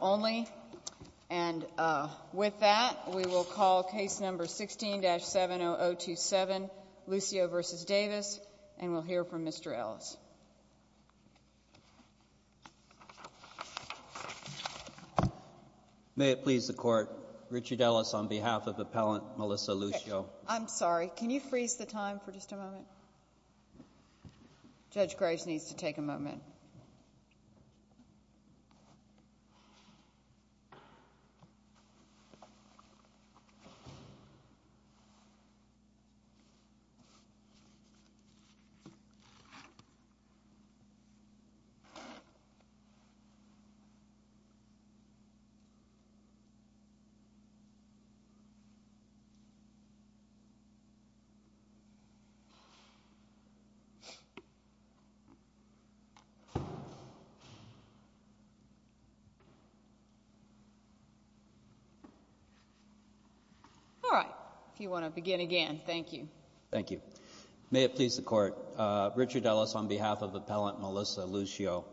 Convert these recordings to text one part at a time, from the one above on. only. And with that, we will call case number 16-70027, Lucio v. Davis, and we'll hear from Mr. Ellis. May it please the Court, Richard Ellis on behalf of Appellant Melissa Lucio. I'm sorry, can you freeze the time for just a moment? Judge Graves needs to take a moment. Thank you, Judge Graves. All right. If you want to begin again, thank you. Thank you. May it please the Court, Richard Ellis on behalf of Appellant Melissa Lucio.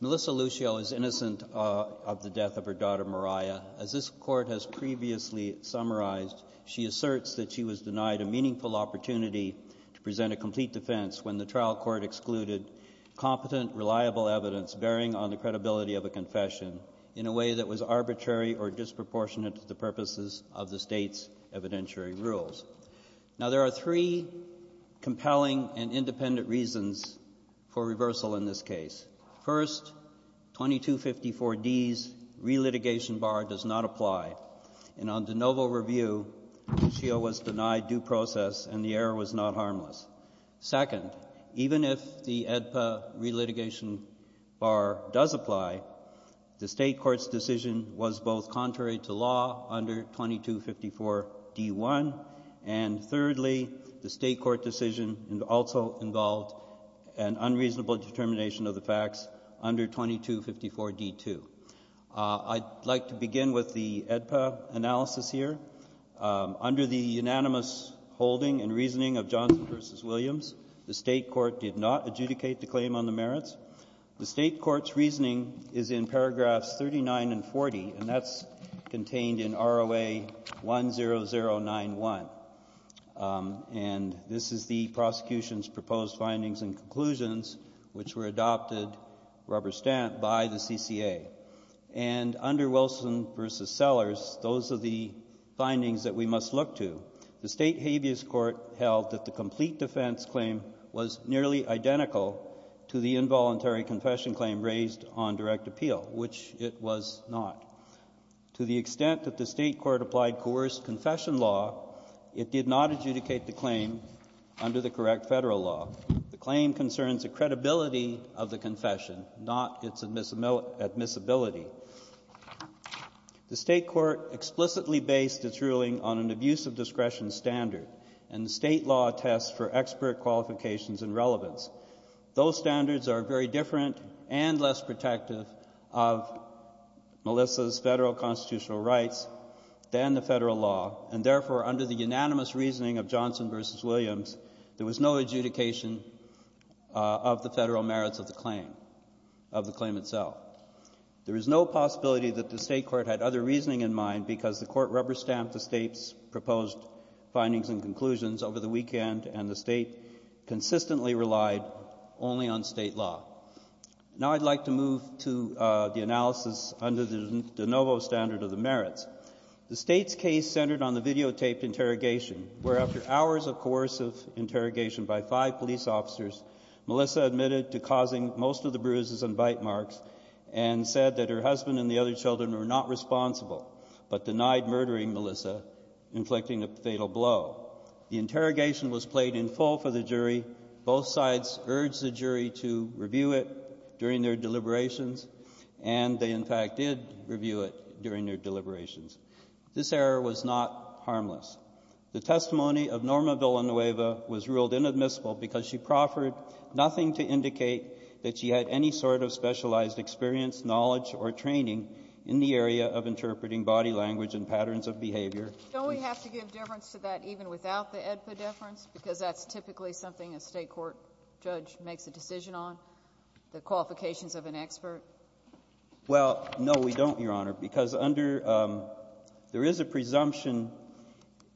Melissa Lucio is innocent of the death of her daughter Mariah. As this Court has previously summarized, she asserts that she was denied a meaningful opportunity to present a complete defense when the trial court excluded competent, reliable evidence bearing on the credibility of a confession in a way that was arbitrary or disproportionate to the purposes of the State's evidentiary rules. Now, there are three compelling and independent reasons for reversal in this case. First, 2254D's relitigation bar does not apply, and on de novo review, Lucio was denied due process and the error was not harmless. Second, even if the AEDPA relitigation bar does apply, the State Court's decision was both contrary to law under 2254D1, and thirdly, the State Court decision also involved an unreasonable determination of the facts under 2254D2. I'd like to begin with the AEDPA analysis here. Under the unanimous holding and reasoning of Johnson v. Williams, the State Court did not adjudicate the claim on the merits. The State Court's reasoning is in paragraphs 39 and 40, and that's contained in ROA 10091. And this is the prosecution's proposed findings and conclusions, which were adopted rubber stamp by the CCA. And under Wilson v. Sellers, those are the findings that we must look to. The State habeas court held that the complete defense claim was nearly identical to the involuntary confession claim raised on direct appeal, which it was not. To the extent that the State Court applied coerced confession law, it did not adjudicate the claim under the correct federal law. The claim concerns the credibility of the confession, not its admissibility. The State Court explicitly based its ruling on an abuse of discretion standard, and the state law tests for expert qualifications and relevance. Those standards are very different and less protective of Melissa's federal constitutional rights than the federal law, and therefore, under the unanimous reasoning of Johnson v. Williams, there was no adjudication of the federal merits of the claim, of the claim itself. There is no possibility that the State Court had other reasoning in mind because the court rubber stamped the state's proposed findings and conclusions over the weekend, and the state consistently relied only on state law. Now I'd like to move to the analysis under the de novo standard of the merits. The State's case centered on the videotaped interrogation, where after hours of coercive interrogation by five police officers, Melissa admitted to causing most of the bruises and bite marks, and said that her husband and the other children were not responsible, but denied murdering Melissa, inflicting a fatal blow. The interrogation was played in full for the jury. Both sides urged the jury to review it during their deliberations, and they, in fact, did review it during their deliberations. This error was not harmless. The testimony of Norma Villanueva was ruled inadmissible because she proffered nothing to indicate that she had any sort of specialized experience, knowledge, or training in the area of interpreting body language and patterns of behavior. Don't we have to give deference to that even without the AEDPA deference, because that's typically something a State court judge makes a decision on, the qualifications of an expert? Well, no, we don't, Your Honor, because under — there is a presumption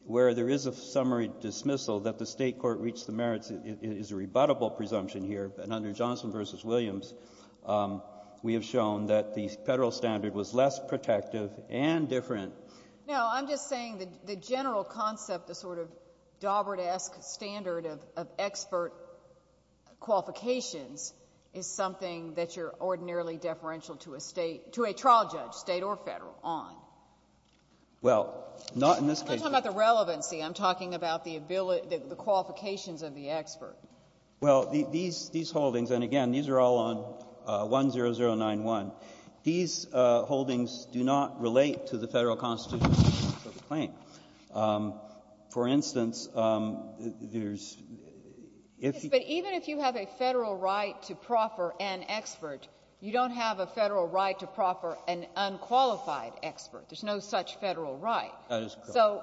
where there is a summary dismissal that the State court reached the merits. It is a rebuttable presumption here. And under Johnson v. Williams, we have shown that the Federal standard was less protective and different. No, I'm just saying the general concept, the sort of dauberdesque standard of expert qualifications is something that you're ordinarily deferential to a State — to a trial judge, State or Federal, on. Well, not in this case. I'm not talking about the relevancy. I'm talking about the qualifications of the expert. Well, these holdings, and again, these are all on 10091. These holdings do not relate to the Federal constitution of the claim. For instance, there's — Yes, but even if you have a Federal right to proffer an expert, you don't have a Federal right to proffer an unqualified expert. There's no such Federal right. That is correct. So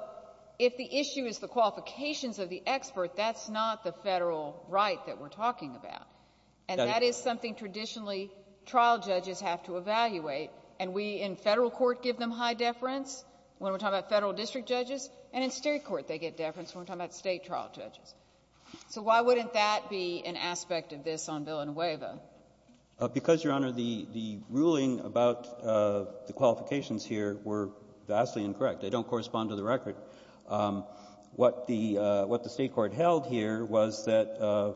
if the issue is the qualifications of the expert, that's not the Federal right that we're talking about. And that is something traditionally trial judges have to evaluate. And we in Federal court give them high deference when we're talking about Federal district judges, and in State court they get deference when we're talking about State trial judges. So why wouldn't that be an aspect of this on Villanueva? Because, Your Honor, the ruling about the qualifications here were vastly incorrect. They don't correspond to the record. What the State court held here was that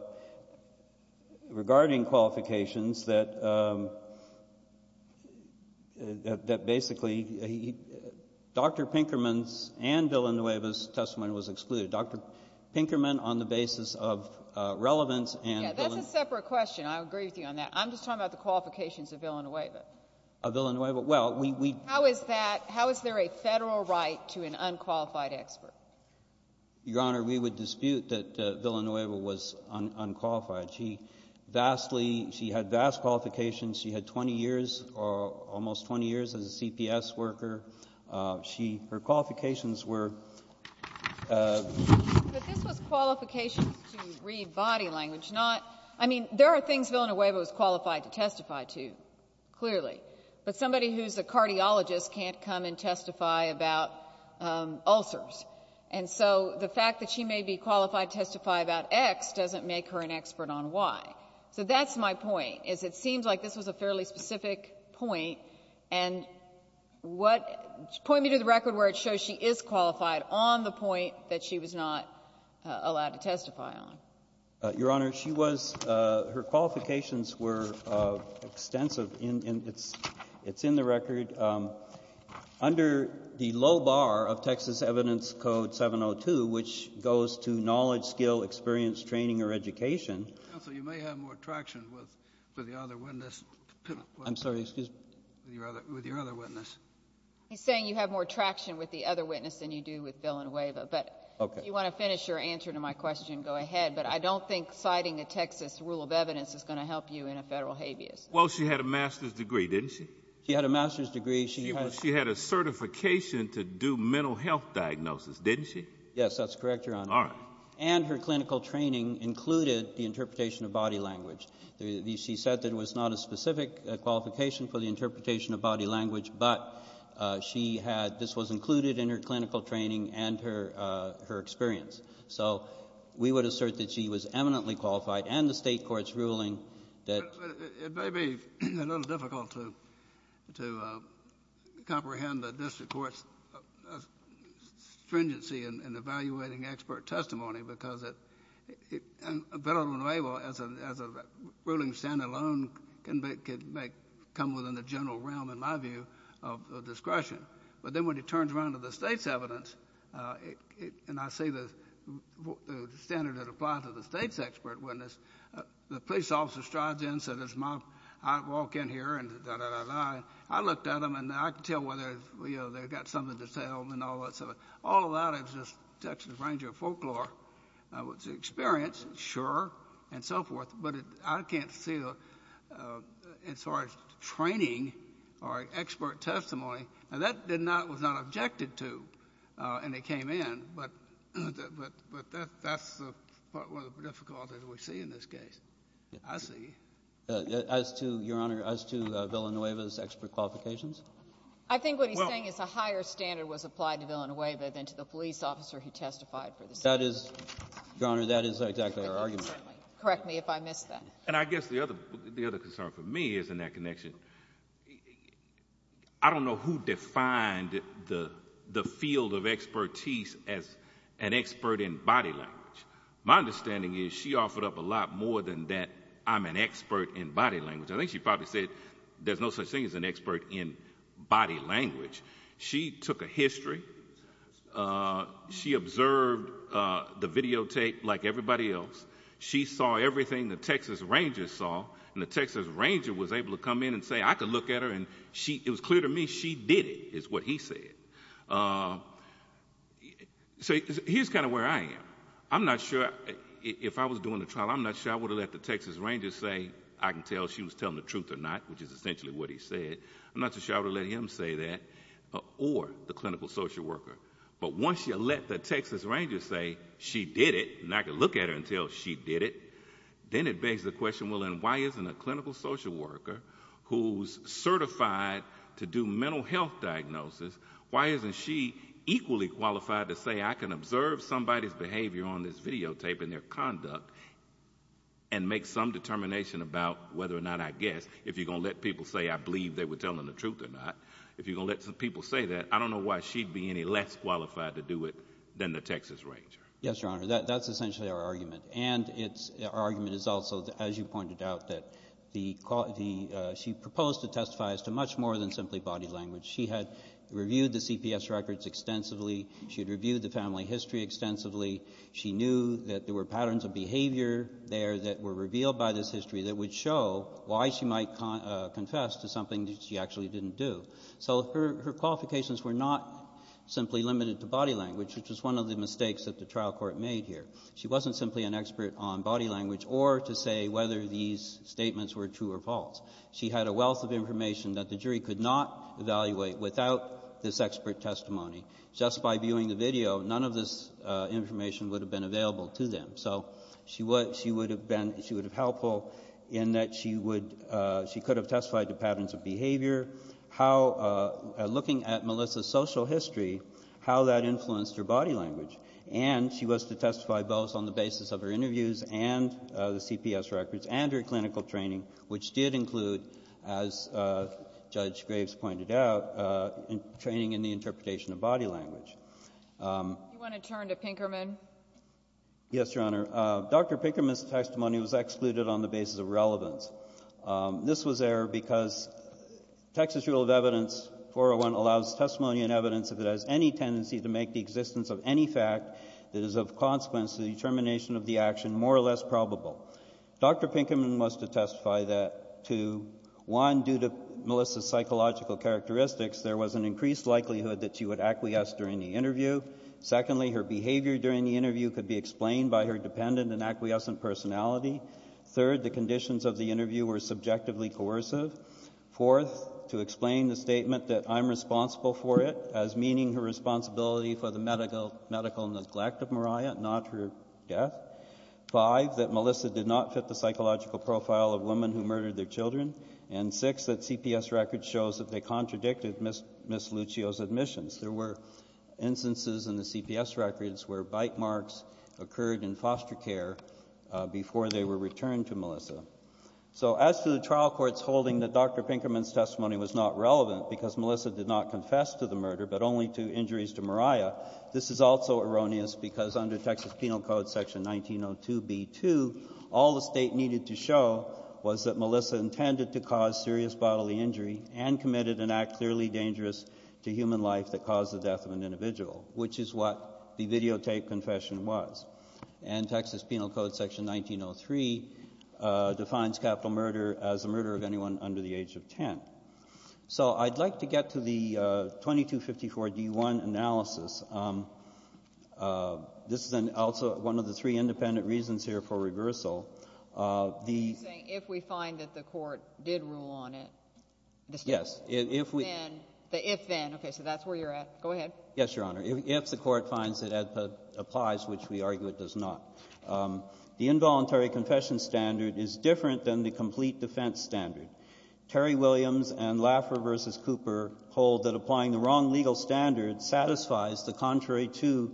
regarding qualifications, that basically Dr. Pinkerman's and Villanueva's testimony was excluded. Dr. Pinkerman, on the basis of relevance and Villanueva — That's a separate question. I agree with you on that. I'm just talking about the qualifications of Villanueva. Of Villanueva. Well, we — How is that — how is there a Federal right to an unqualified expert? Your Honor, we would dispute that Villanueva was unqualified. She vastly — she had vast qualifications. She had 20 years or almost 20 years as a CPS worker. She — her qualifications were — But this was qualifications to read body language, not — I mean, there are things Villanueva was qualified to testify to, clearly. But somebody who's a cardiologist can't come and testify about ulcers. And so the fact that she may be qualified to testify about X doesn't make her an expert on Y. So that's my point, is it seems like this was a fairly specific point. And what — point me to the record where it shows she is qualified on the point that she was not allowed to testify on. Your Honor, she was — her qualifications were extensive, and it's in the record. Under the low bar of Texas Evidence Code 702, which goes to knowledge, skill, experience, training, or education — Counsel, you may have more traction with the other witness. I'm sorry. Excuse me. With your other witness. He's saying you have more traction with the other witness than you do with Villanueva. But if you want to finish your answer to my question, go ahead. But I don't think citing a Texas rule of evidence is going to help you in a federal habeas. Well, she had a master's degree, didn't she? She had a master's degree. She had a certification to do mental health diagnosis, didn't she? Yes, that's correct, Your Honor. All right. And her clinical training included the interpretation of body language. She said that it was not a specific qualification for the interpretation of body language, but she had — this was included in her clinical training and her experience. So we would assert that she was eminently qualified and the state court's ruling that — It may be a little difficult to comprehend the district court's stringency in evaluating expert testimony because Villanueva, as a ruling stand-alone, can come within the general realm, in my view, of discretion. But then when it turns around to the state's evidence, and I see the standard that applies to the state's expert witness, the police officer strides in and says, I walk in here, and da-da-da-da-da. I looked at them, and I can tell whether they've got something to tell and all that sort of — all of that is just Texas Ranger folklore. It's an experience, sure, and so forth, but I can't see it as far as training or expert testimony. And that was not objected to, and it came in, but that's one of the difficulties we see in this case. I see. As to, Your Honor, as to Villanueva's expert qualifications? I think what he's saying is a higher standard was applied to Villanueva than to the police officer who testified for the state. That is — Your Honor, that is exactly our argument. Correct me if I missed that. And I guess the other concern for me is in that connection. I don't know who defined the field of expertise as an expert in body language. My understanding is she offered up a lot more than that. I'm an expert in body language. I think she probably said there's no such thing as an expert in body language. She took a history. She observed the videotape like everybody else. She saw everything the Texas Rangers saw, and the Texas Ranger was able to come in and say, I could look at her, and it was clear to me she did it, is what he said. So here's kind of where I am. I'm not sure if I was doing the trial, I'm not sure I would have let the Texas Rangers say I can tell she was telling the truth or not, which is essentially what he said. I'm not so sure I would have let him say that or the clinical social worker. But once you let the Texas Rangers say she did it, and I could look at her and tell she did it, then it begs the question, well, then why isn't a clinical social worker who's certified to do mental health diagnosis, why isn't she equally qualified to say I can observe somebody's behavior on this videotape and their conduct and make some determination about whether or not I guessed. If you're going to let people say I believe they were telling the truth or not, if you're going to let people say that, I don't know why she'd be any less qualified to do it than the Texas Ranger. Yes, Your Honor, that's essentially our argument. And our argument is also, as you pointed out, that she proposed to testify as to much more than simply body language. She had reviewed the CPS records extensively. She had reviewed the family history extensively. She knew that there were patterns of behavior there that were revealed by this history that would show why she might confess to something that she actually didn't do. So her qualifications were not simply limited to body language, which was one of the mistakes that the trial court made here. She wasn't simply an expert on body language or to say whether these statements were true or false. She had a wealth of information that the jury could not evaluate without this expert testimony. Just by viewing the video, none of this information would have been available to them. So she would have been helpful in that she could have testified to patterns of behavior. Looking at Melissa's social history, how that influenced her body language. And she was to testify both on the basis of her interviews and the CPS records and her clinical training, which did include, as Judge Graves pointed out, training in the interpretation of body language. Do you want to turn to Pinkerman? Yes, Your Honor. Dr. Pinkerman's testimony was excluded on the basis of relevance. This was there because Texas Rule of Evidence 401 allows testimony and evidence if it has any tendency to make the existence of any fact that is of consequence to the determination of the action more or less probable. Dr. Pinkerman was to testify that, one, due to Melissa's psychological characteristics, there was an increased likelihood that she would acquiesce during the interview. Secondly, her behavior during the interview could be explained by her dependent and acquiescent personality. Third, the conditions of the interview were subjectively coercive. Fourth, to explain the statement that I'm responsible for it, as meaning her responsibility for the medical neglect of Mariah, not her death. Five, that Melissa did not fit the psychological profile of women who murdered their children. And six, that CPS records show that they contradicted Ms. Lucio's admissions. There were instances in the CPS records where bite marks occurred in foster care before they were returned to Melissa. So as to the trial courts holding that Dr. Pinkerman's testimony was not relevant because Melissa did not confess to the murder but only to injuries to Mariah, this is also erroneous because under Texas Penal Code Section 1902b2, all the State needed to show was that Melissa intended to cause serious bodily injury and committed an act clearly dangerous to human life that caused the death of an individual, which is what the videotaped confession was. And Texas Penal Code Section 1903 defines capital murder as the murder of anyone under the age of 10. So I'd like to get to the 2254d1 analysis. This is also one of the three independent reasons here for reversal. You're saying if we find that the Court did rule on it. Yes. If then. Okay, so that's where you're at. Go ahead. Yes, Your Honor. If the Court finds that it applies, which we argue it does not. The involuntary confession standard is different than the complete defense standard. Terry Williams and Laffer v. Cooper hold that applying the wrong legal standard satisfies the contrary to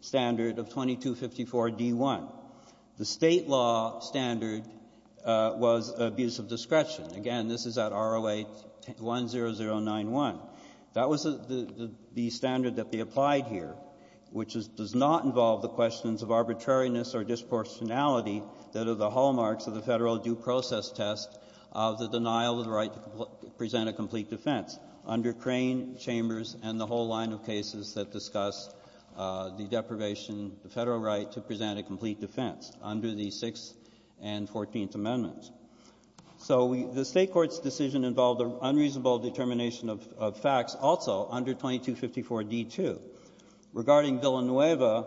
standard of 2254d1. The State law standard was abuse of discretion. Again, this is at ROA 10091. That was the standard that they applied here, which does not involve the questions of arbitrariness or disproportionality that are the hallmarks of the Federal due process test of the denial of the right to present a complete defense. Under Crane, Chambers, and the whole line of cases that discuss the deprivation, the Federal right to present a complete defense under the Sixth and Fourteenth Amendments. So the State court's decision involved an unreasonable determination of facts also under 2254d2. Regarding Villanueva,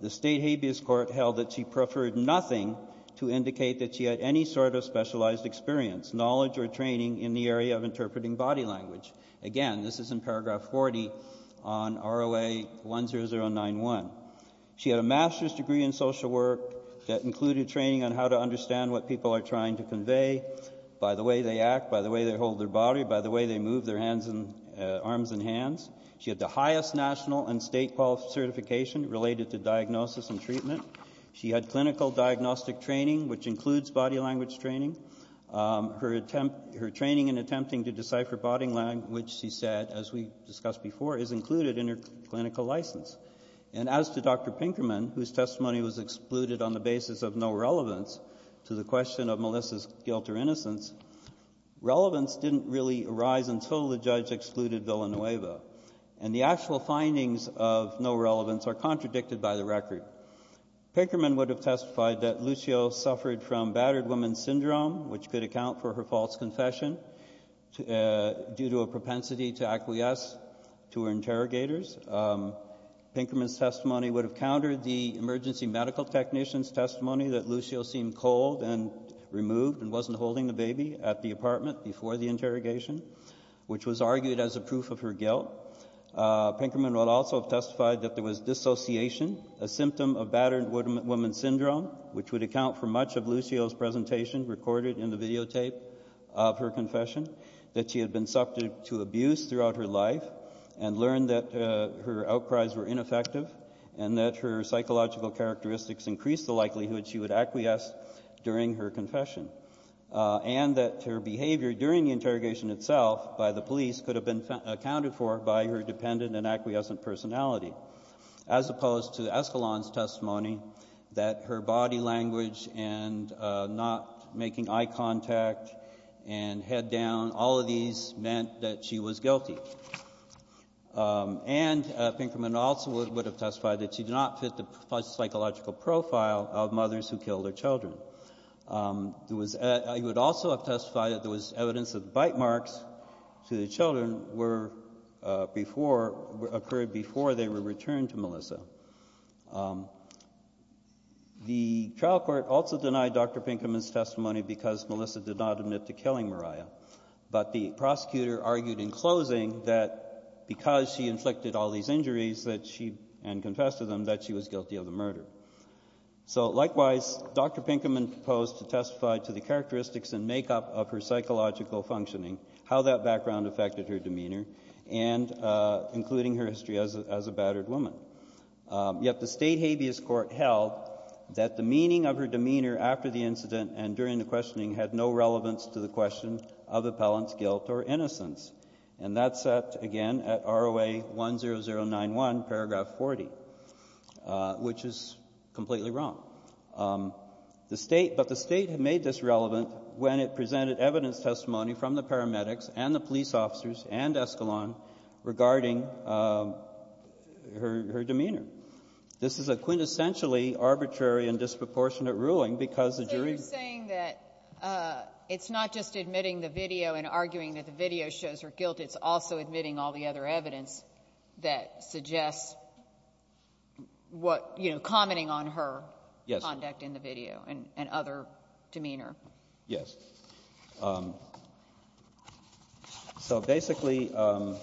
the State habeas court held that she preferred nothing to indicate that she had any sort of specialized experience, knowledge, or training in the area of interpreting body language. Again, this is in paragraph 40 on ROA 10091. She had a master's degree in social work that included training on how to understand what people are trying to convey by the way they act, by the way they hold their body, by the way they move their arms and hands. She had the highest national and State qualification related to diagnosis and treatment. She had clinical diagnostic training, which includes body language training. Her training in attempting to decipher body language, she said, as we discussed before, is included in her clinical license. And as to Dr. Pinkerman, whose testimony was excluded on the basis of no relevance to the question of Melissa's guilt or innocence, relevance didn't really arise until the judge excluded Villanueva. And the actual findings of no relevance are contradicted by the record. Pinkerman would have testified that Lucio suffered from battered woman syndrome, which could account for her false confession due to a propensity to acquiesce to her interrogators. Pinkerman's testimony would have countered the emergency medical technician's testimony that Lucio seemed cold and removed and wasn't holding the baby at the apartment before the interrogation, which was argued as a proof of her guilt. Pinkerman would also have testified that there was dissociation, a symptom of battered woman syndrome, which would account for much of Lucio's presentation recorded in the videotape of her confession, that she had been subject to abuse throughout her life and learned that her outcries were ineffective and that her psychological characteristics increased the likelihood she would acquiesce during her confession, and that her behavior during the interrogation itself by the police could have been accounted for by her dependent and acquiescent personality, as opposed to Escalon's testimony that her body language and not making eye contact and head down, all of these meant that she was guilty. And Pinkerman also would have testified that she did not fit the psychological profile of mothers who killed their children. He would also have testified that there was evidence that bite marks to the children occurred before they were returned to Melissa. The trial court also denied Dr. Pinkerman's testimony because Melissa did not admit to killing Mariah, but the prosecutor argued in closing that because she inflicted all these injuries and confessed to them that she was guilty of the murder. So likewise, Dr. Pinkerman proposed to testify to the characteristics and makeup of her psychological functioning, how that background affected her demeanor, and including her history as a battered woman. Yet the state habeas court held that the meaning of her demeanor after the incident and during the questioning had no relevance to the question of appellant's guilt or innocence. And that's at, again, at ROA 10091, paragraph 40, which is completely wrong. The State — but the State made this relevant when it presented evidence testimony from the paramedics and the police officers and Escalon regarding her demeanor. This is a quintessentially arbitrary and disproportionate ruling because the jury — But it's not just admitting the video and arguing that the video shows her guilt. It's also admitting all the other evidence that suggests what — you know, commenting on her conduct in the video and other demeanor. Yes. So basically, I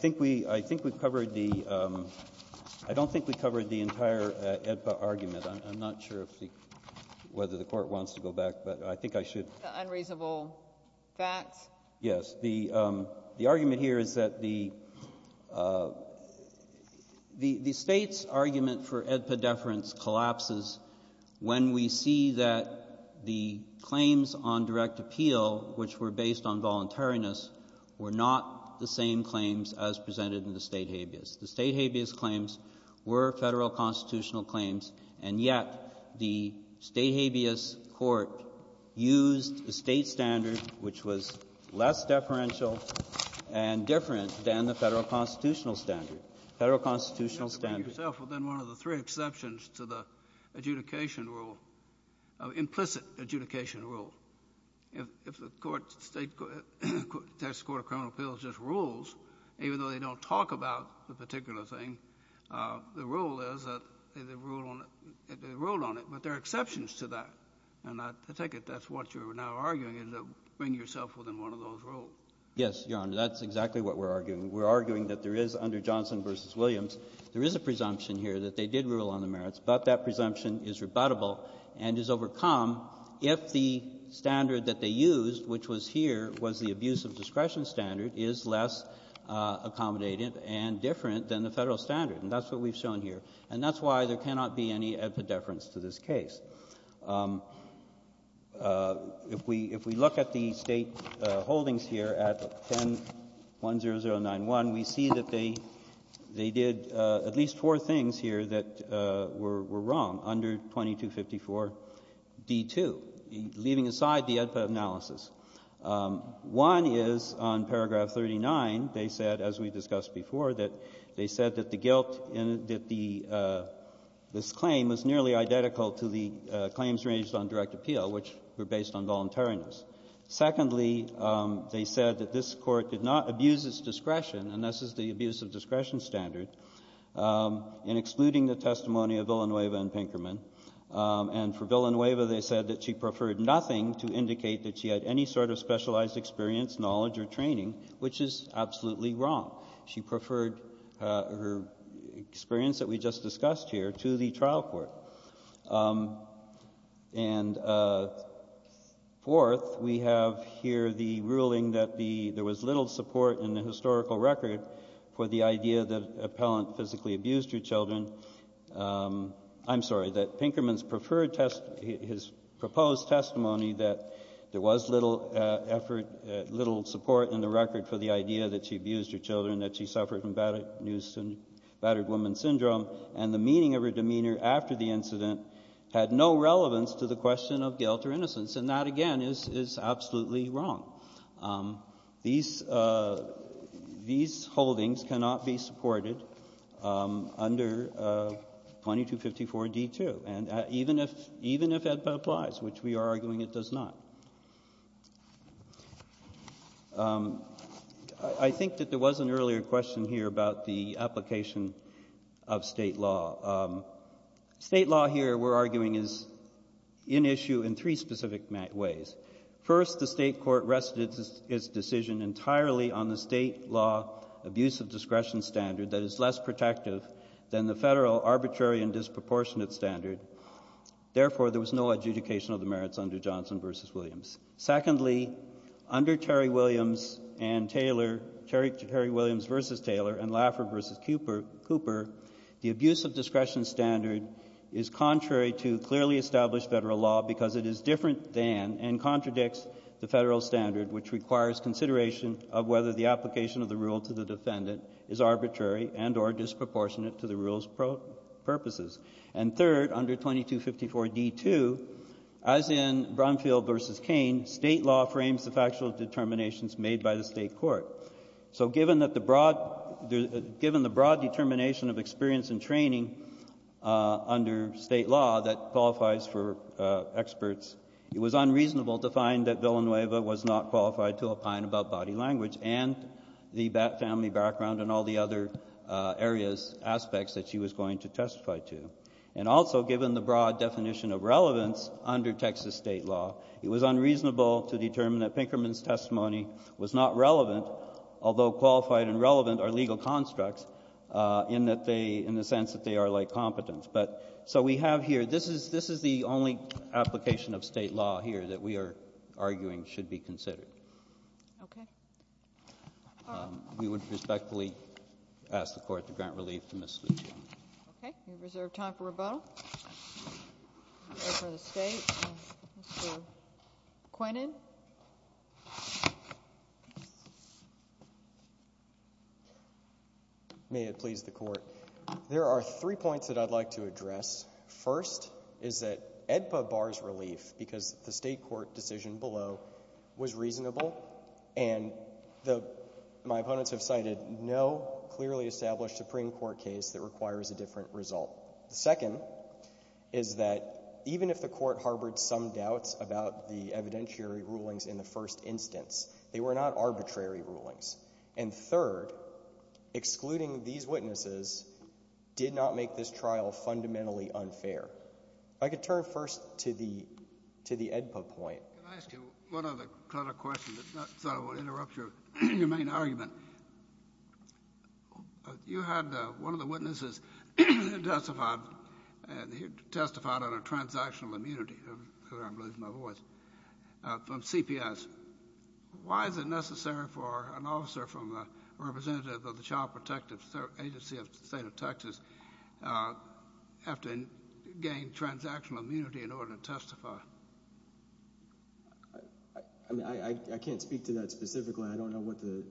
think we — I think we've covered the — I don't think we've covered the entire AEDPA argument. I'm not sure if the — whether the Court wants to go back, but I think I should. The unreasonable facts? Yes. The argument here is that the — the State's argument for AEDPA deference collapses when we see that the claims on direct appeal, which were based on voluntariness, were not the same claims as presented in the State habeas. The State habeas claims were Federal constitutional claims, and yet the State habeas court used the State standard, which was less deferential and different than the Federal constitutional standard. Federal constitutional standard. Well, then one of the three exceptions to the adjudication rule, implicit adjudication rule, if the court, State — Texas Court of Criminal Appeals just rules, even though they don't talk about the particular thing, the rule is that they ruled on it. But there are exceptions to that, and I take it that's what you're now arguing, is that bring yourself within one of those rules. Yes, Your Honor. That's exactly what we're arguing. We're arguing that there is, under Johnson v. Williams, there is a presumption here that they did rule on the merits, but that presumption is rebuttable and is overcome if the standard that they used, which was here, was the abuse of discretion standard, is less accommodative and different than the Federal standard. And that's what we've shown here. And that's why there cannot be any epidefference to this case. If we look at the State holdings here at 10-10091, we see that they did at least four things here that were wrong under 2254d2, leaving aside the epi analysis. One is on paragraph 39, they said, as we discussed before, that they said that the this claim was nearly identical to the claims raised on direct appeal, which were based on voluntariness. Secondly, they said that this Court did not abuse its discretion, and this is the abuse of discretion standard, in excluding the testimony of Villanueva and Pinkerman. And for Villanueva, they said that she preferred nothing to indicate that she had any sort of specialized experience, knowledge, or training, which is absolutely wrong. She preferred her experience that we just discussed here to the trial court. And fourth, we have here the ruling that there was little support in the historical record for the idea that Appellant physically abused her children. I'm sorry, that Pinkerman's preferred testimony, his proposed testimony, that there was little effort, little support in the record for the idea that she abused her children, that she suffered from battered woman syndrome, and the meaning of her demeanor after the incident had no relevance to the question of guilt or innocence. And that, again, is absolutely wrong. These holdings cannot be supported under 2254d2, even if it applies, which we are I think that there was an earlier question here about the application of State law. State law here, we're arguing, is in issue in three specific ways. First, the State court rested its decision entirely on the State law abuse of discretion standard that is less protective than the Federal arbitrary and disproportionate standard. Therefore, there was no adjudication of the merits under Johnson v. Williams. Secondly, under Terry Williams v. Taylor and Laffer v. Cooper, the abuse of discretion standard is contrary to clearly established Federal law because it is different than and contradicts the Federal standard, which requires consideration of whether the application of the rule to the defendant is arbitrary and or disproportionate to the rule's purposes. And third, under 2254d2, as in Brumfield v. Cain, State law frames the factual determinations made by the State court. So given the broad determination of experience and training under State law that qualifies for experts, it was unreasonable to find that Villanueva was not qualified to opine about body language and the family background and all the aspects that she was going to testify to. And also, given the broad definition of relevance under Texas State law, it was unreasonable to determine that Pinkerman's testimony was not relevant, although qualified and relevant are legal constructs, in the sense that they are like competence. But so we have here, this is the only application of State law here that we are arguing should be considered. Okay. All right. We would respectfully ask the Court to grant relief to Ms. Lujan. We reserve time for rebuttal. I'll go for the State. Mr. Quinnen. May it please the Court. There are three points that I'd like to address. First is that AEDPA bars relief because the State court decision below was reasonable and my opponents have cited no clearly established Supreme Court case that requires a different result. Second is that even if the Court harbored some doubts about the evidentiary rulings in the first instance, they were not arbitrary rulings. And third, excluding these witnesses did not make this trial fundamentally unfair. If I could turn first to the AEDPA point. Can I ask you one other kind of question? I thought I would interrupt your main argument. You had one of the witnesses testified on a transactional immunity, because I'm losing my voice, from CPS. Why is it necessary for an officer from a representative of the Child Protective Agency of the State of Texas to have to gain transactional immunity in order to testify? I mean, I can't speak to that specifically. I don't know what the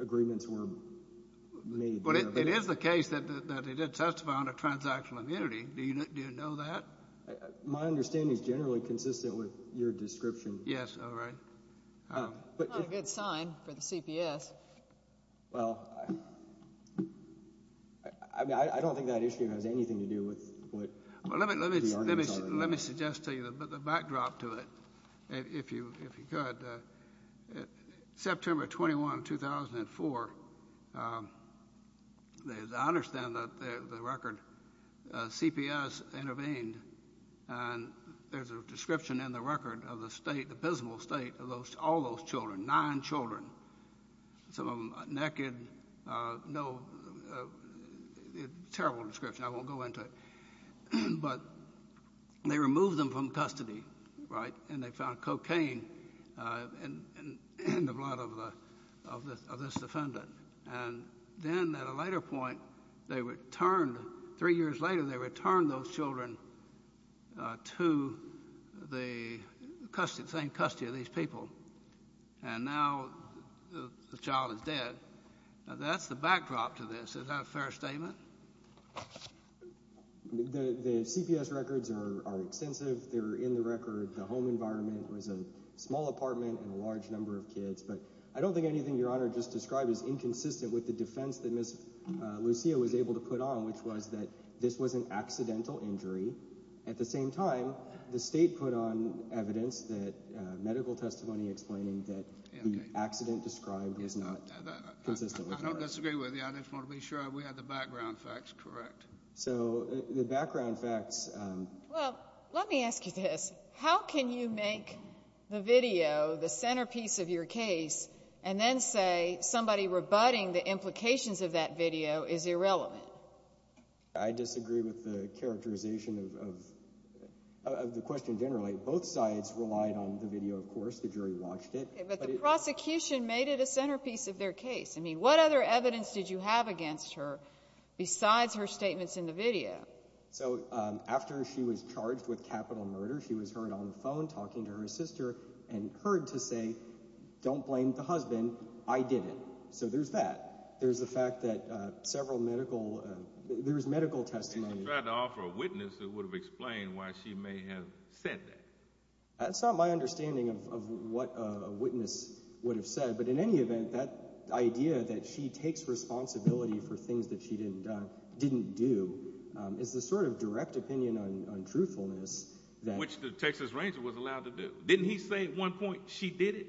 agreements were made. But it is the case that they did testify on a transactional immunity. Do you know that? My understanding is generally consistent with your description. Yes, all right. Not a good sign for the CPS. Well, I mean, I don't think that issue has anything to do with what the CPS did. Let me suggest to you the backdrop to it, if you could. September 21, 2004, I understand that the record, CPS intervened, and there's a description in the record of the state, the abysmal state, of all those children, nine children, some of them naked. No, terrible description. I won't go into it. But they removed them from custody, right? And they found cocaine in the blood of this defendant. And then at a later point, they returned, three years later, they returned those children to the same custody of these people. And now the child is dead. That's the backdrop to this. Is that a fair statement? The CPS records are extensive. They're in the record. The home environment was a small apartment and a large number of kids. But I don't think anything Your Honor just described is inconsistent with the defense that Ms. Lucia was able to put on, which was that this was an accidental injury. At the same time, the state put on evidence, medical testimony explaining that the accident described was not consistent. I don't disagree with you. I just want to be sure we have the background facts correct. So the background facts. Well, let me ask you this. How can you make the video the centerpiece of your case and then say somebody rebutting the implications of that video is irrelevant? I disagree with the characterization of the question generally. Both sides relied on the video, of course. The jury watched it. But the prosecution made it a centerpiece of their case. I mean, what other evidence did you have against her besides her statements in the video? So after she was charged with capital murder, she was heard on the phone talking to her sister and heard to say, don't blame the husband. I did it. So there's that. There's the fact that several medical, there's medical testimony. If you tried to offer a witness, it would have explained why she may have said that. That's not my understanding of what a witness would have said. But in any event, that idea that she takes responsibility for things that she didn't didn't do is the sort of direct opinion on truthfulness. Which the Texas Ranger was allowed to do. Didn't he say at one point she did it?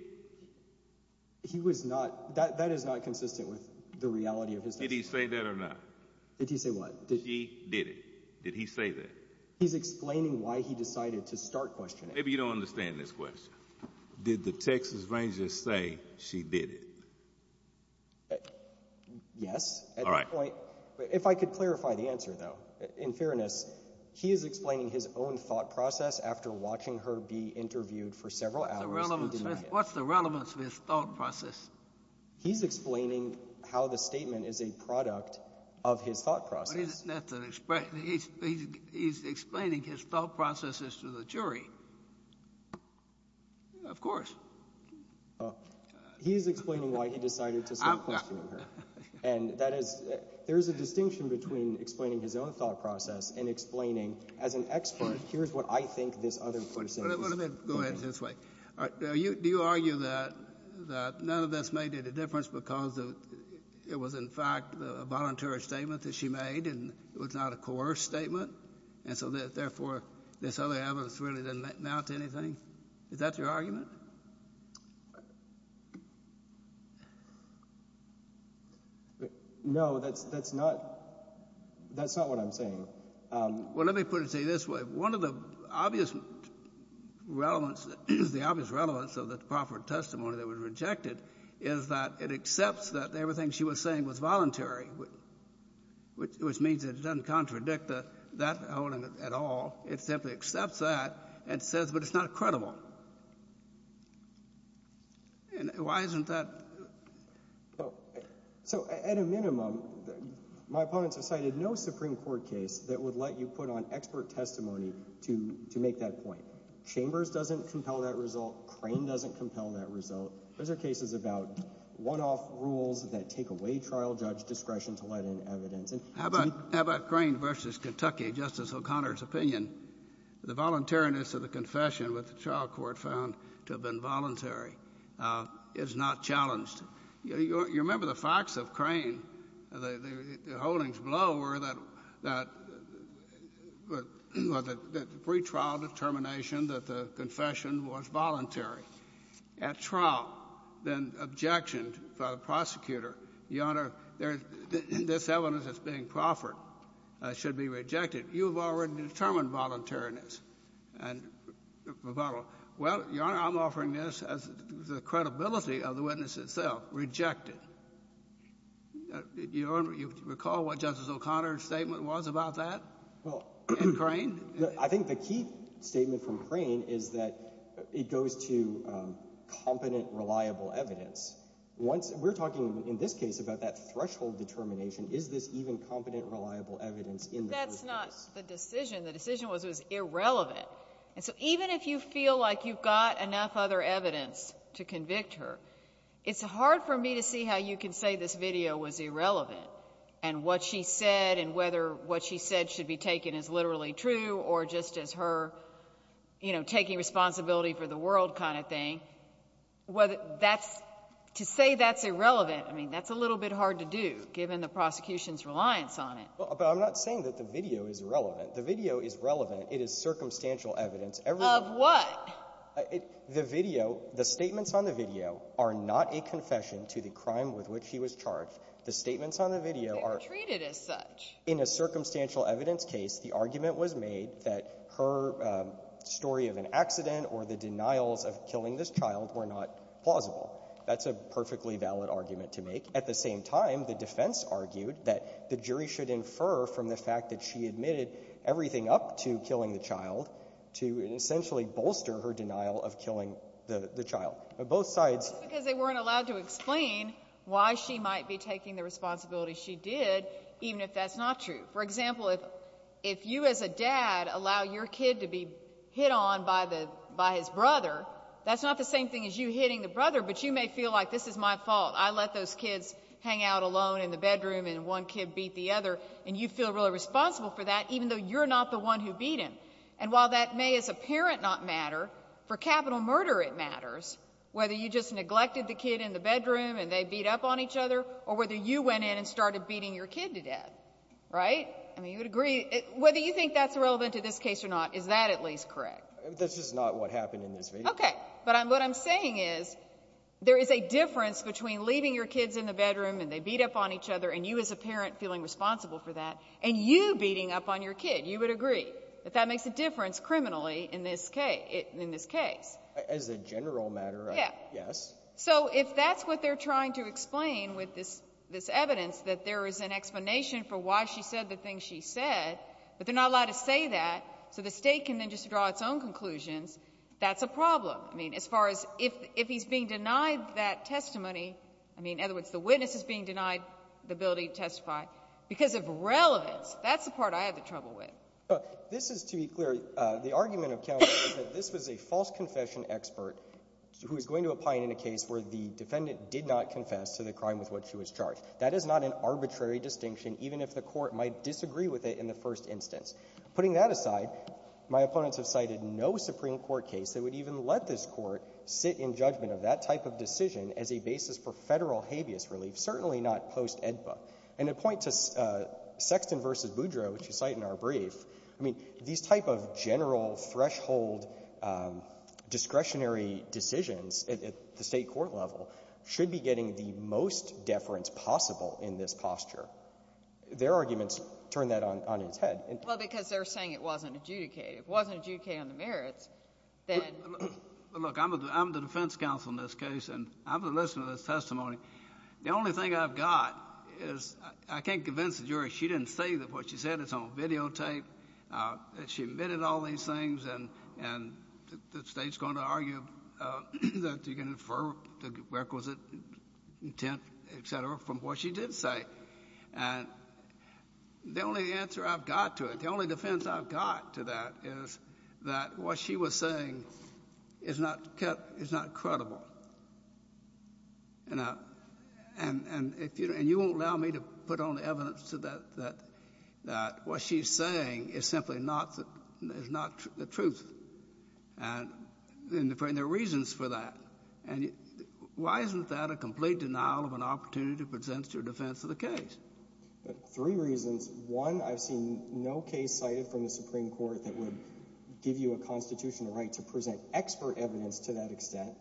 He was not. That is not consistent with the reality of his. Did he say that or not? Did he say what did he did? Did he say that he's explaining why he decided to start questioning? Maybe you don't understand this question. Did the Texas Rangers say she did it? Yes. All right. If I could clarify the answer, though, in fairness, he is explaining his own thought process after watching her be interviewed for several hours. What's the relevance of his thought process? He's explaining how the statement is a product of his thought process. That's an expression. He's explaining his thought processes to the jury. Of course. He's explaining why he decided to start questioning her. And that is there is a distinction between explaining his own thought process and explaining as an expert, here's what I think this other person is saying. Go ahead. This way. Do you argue that none of this made any difference because it was, in fact, a voluntary statement that she made and it was not a coerced statement and so, therefore, this other evidence really didn't amount to anything? Is that your argument? No, that's not what I'm saying. Well, let me put it to you this way. One of the obvious relevance of the Crawford testimony that was rejected is that it accepts that everything she was saying was voluntary, which means that it doesn't contradict that holding at all. It simply accepts that and says, but it's not credible. Why isn't that? So, at a minimum, my opponents have cited no Supreme Court case that would let you put on expert testimony to make that point. Chambers doesn't compel that result. Crane doesn't compel that result. Those are cases about one-off rules that take away trial judge discretion to let in evidence. How about Crane v. Kentucky, Justice O'Connor's opinion? The voluntariness of the confession with the trial court found to have been voluntary is not challenged. You remember the facts of Crane. The holdings below were that the pretrial determination that the confession was voluntary. At trial, then objection by the prosecutor, Your Honor, this evidence that's being Crawford should be rejected. You have already determined voluntariness. Well, Your Honor, I'm offering this as the credibility of the witness itself, rejected. Do you recall what Justice O'Connor's statement was about that in Crane? I think the key statement from Crane is that it goes to competent, reliable evidence. We're talking in this case about that threshold determination. Is this even competent, reliable evidence in the first place? That's not the decision. The decision was it was irrelevant. And so even if you feel like you've got enough other evidence to convict her, it's hard for me to see how you can say this video was irrelevant and what she said and whether what she said should be taken as literally true or just as her, you know, taking responsibility for the world kind of thing. To say that's irrelevant, I mean, that's a little bit hard to do given the prosecution's reliance on it. But I'm not saying that the video is irrelevant. The video is relevant. It is circumstantial evidence. Of what? The video, the statements on the video are not a confession to the crime with which she was charged. The statements on the video are treated as such. In a circumstantial evidence case, the argument was made that her story of an accident or the denials of killing this child were not plausible. That's a perfectly valid argument to make. At the same time, the defense argued that the jury should infer from the fact that she admitted everything up to killing the child to essentially bolster her denial of killing the child. Because they weren't allowed to explain why she might be taking the responsibility she did, even if that's not true. For example, if you as a dad allow your kid to be hit on by his brother, that's not the same thing as you hitting the brother, but you may feel like this is my fault. I let those kids hang out alone in the bedroom and one kid beat the other, and you feel really responsible for that, even though you're not the one who beat him. And while that may as a parent not matter, for capital murder it matters, whether you just neglected the kid in the bedroom and they beat up on each other or whether you went in and started beating your kid to death. Right? I mean, you would agree. Whether you think that's relevant to this case or not, is that at least correct? This is not what happened in this video. Okay. But what I'm saying is there is a difference between leaving your kids in the bedroom and they beat up on each other and you as a parent feeling responsible for that and you beating up on your kid. You would agree that that makes a difference criminally in this case. As a general matter, yes. So if that's what they're trying to explain with this evidence, that there is an explanation for why she said the things she said, but they're not allowed to say that so the state can then just draw its own conclusions, that's a problem. I mean, as far as if he's being denied that testimony, I mean, in other words, the witness is being denied the ability to testify because of relevance. That's the part I have the trouble with. This is to be clear. The argument of counsel is that this was a false confession expert who is going to opine in a case where the defendant did not confess to the crime with which she was charged. That is not an arbitrary distinction, even if the court might disagree with it in the first instance. Putting that aside, my opponents have cited no Supreme Court case that would even let this court sit in judgment of that type of decision as a basis for federal habeas relief, certainly not post-AEDPA. And to point to Sexton v. Boudreau, which you cite in our brief, I mean, these type of general threshold discretionary decisions at the state court level should be getting the most deference possible in this posture. Their arguments turn that on its head. Well, because they're saying it wasn't adjudicated. If it wasn't adjudicated on the merits, then — Look, I'm the defense counsel in this case, and I'm going to listen to this testimony. The only thing I've got is I can't convince the jury she didn't say that what she said is on videotape, that she omitted all these things, and the State's going to argue that you can infer the requisite intent, et cetera, from what she did say. And the only answer I've got to it, the only defense I've got to that is that what she was saying is not credible. And you won't allow me to put on evidence that what she's saying is simply not the truth, and there are reasons for that. And why isn't that a complete denial of an opportunity to present your defense of the case? Three reasons. One, I've seen no case cited from the Supreme Court that would give you a constitutional right to present expert evidence to that extent.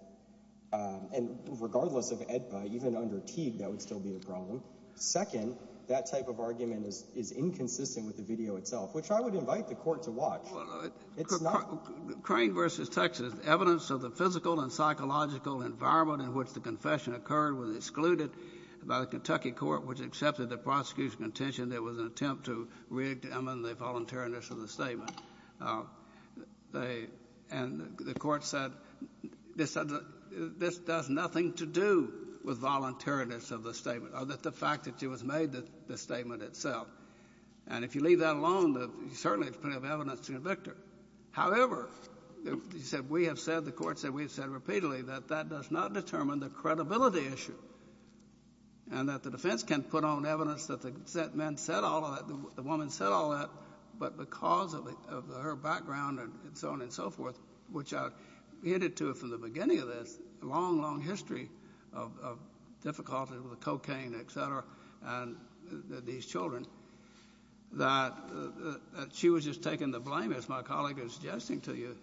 And regardless of AEDPA, even under Teague, that would still be a problem. Second, that type of argument is inconsistent with the video itself, which I would invite the court to watch. Well, Crane v. Texas, evidence of the physical and psychological environment in which the confession occurred was excluded by the Kentucky Court, which accepted the prosecution's contention that it was an attempt to re-examine the voluntariness of the statement. And the court said this does nothing to do with voluntariness of the statement or the fact that it was made, the statement itself. And if you leave that alone, certainly there's plenty of evidence to convict her. However, we have said, the court said repeatedly, that that does not determine the credibility issue, and that the defense can put on evidence that the men said all that, the woman said all that, but because of her background and so on and so forth, which I've hinted to from the beginning of this, a long, long history of difficulties with cocaine, et cetera, and these children, that she was just taken to blame, as my colleague is suggesting to you.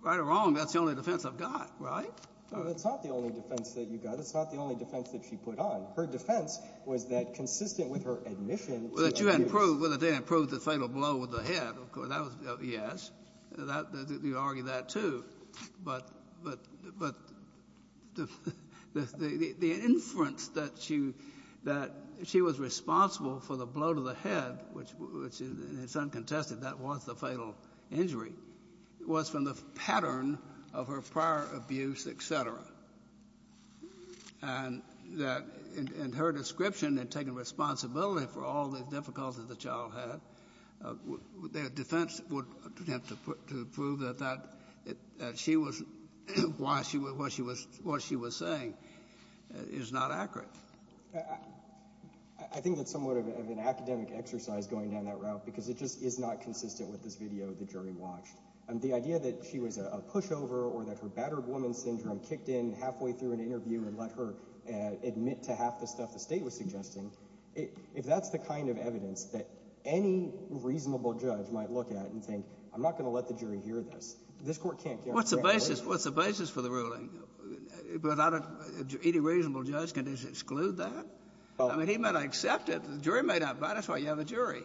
Right or wrong, that's the only defense I've got, right? No, that's not the only defense that you've got. That's not the only defense that she put on. Her defense was that consistent with her admission to the AEDPA. Well, that you hadn't proved, well, that they hadn't proved the fatal blow with the head, of course. That was, yes. You argue that, too. But the inference that she was responsible for the blow to the head, which is uncontested, that was the fatal injury, was from the pattern of her prior abuse, et cetera. And that in her description, in taking responsibility for all the difficulties the child had, their defense would attempt to prove that she was, why she was, what she was saying is not accurate. I think that's somewhat of an academic exercise going down that route because it just is not consistent with this video the jury watched. The idea that she was a pushover or that her battered woman syndrome kicked in halfway through an interview and let her admit to half the stuff the state was suggesting, if that's the kind of evidence that any reasonable judge might look at and think, I'm not going to let the jury hear this, this court can't guarantee that. What's the basis for the ruling? Without a – any reasonable judge can just exclude that? I mean, he might accept it. The jury might not buy it. That's why you have a jury.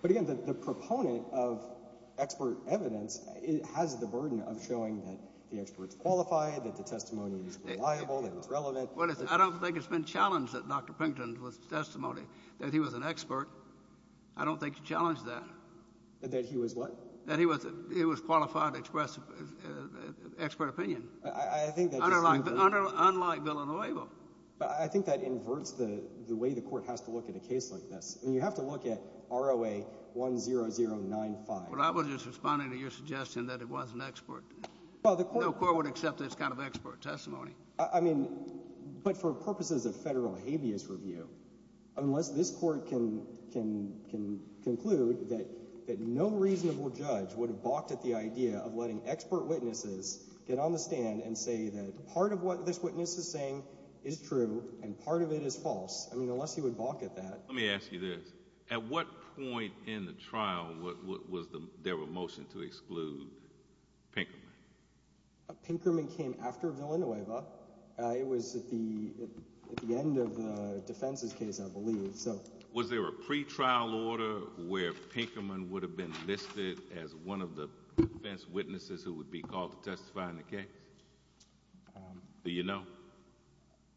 But again, the proponent of expert evidence has the burden of showing that the expert is qualified, that the testimony is reliable, that it's relevant. I don't think it's been challenged that Dr. Pinkton's testimony, that he was an expert. I don't think he challenged that. That he was what? That he was qualified to express expert opinion. I think that just – Unlike Villanueva. I think that inverts the way the court has to look at a case like this. I mean, you have to look at ROA 10095. But I was just responding to your suggestion that it was an expert. No court would accept this kind of expert testimony. I mean, but for purposes of federal habeas review, unless this court can conclude that no reasonable judge would have balked at the idea of letting expert witnesses get on the stand and say that part of what this witness is saying is true and part of it is false. I mean, unless he would balk at that. Let me ask you this. At what point in the trial was there a motion to exclude Pinkerman? Pinkerman came after Villanueva. It was at the end of the defense's case, I believe. Was there a pretrial order where Pinkerman would have been listed as one of the defense witnesses who would be called to testify in the case? Do you know?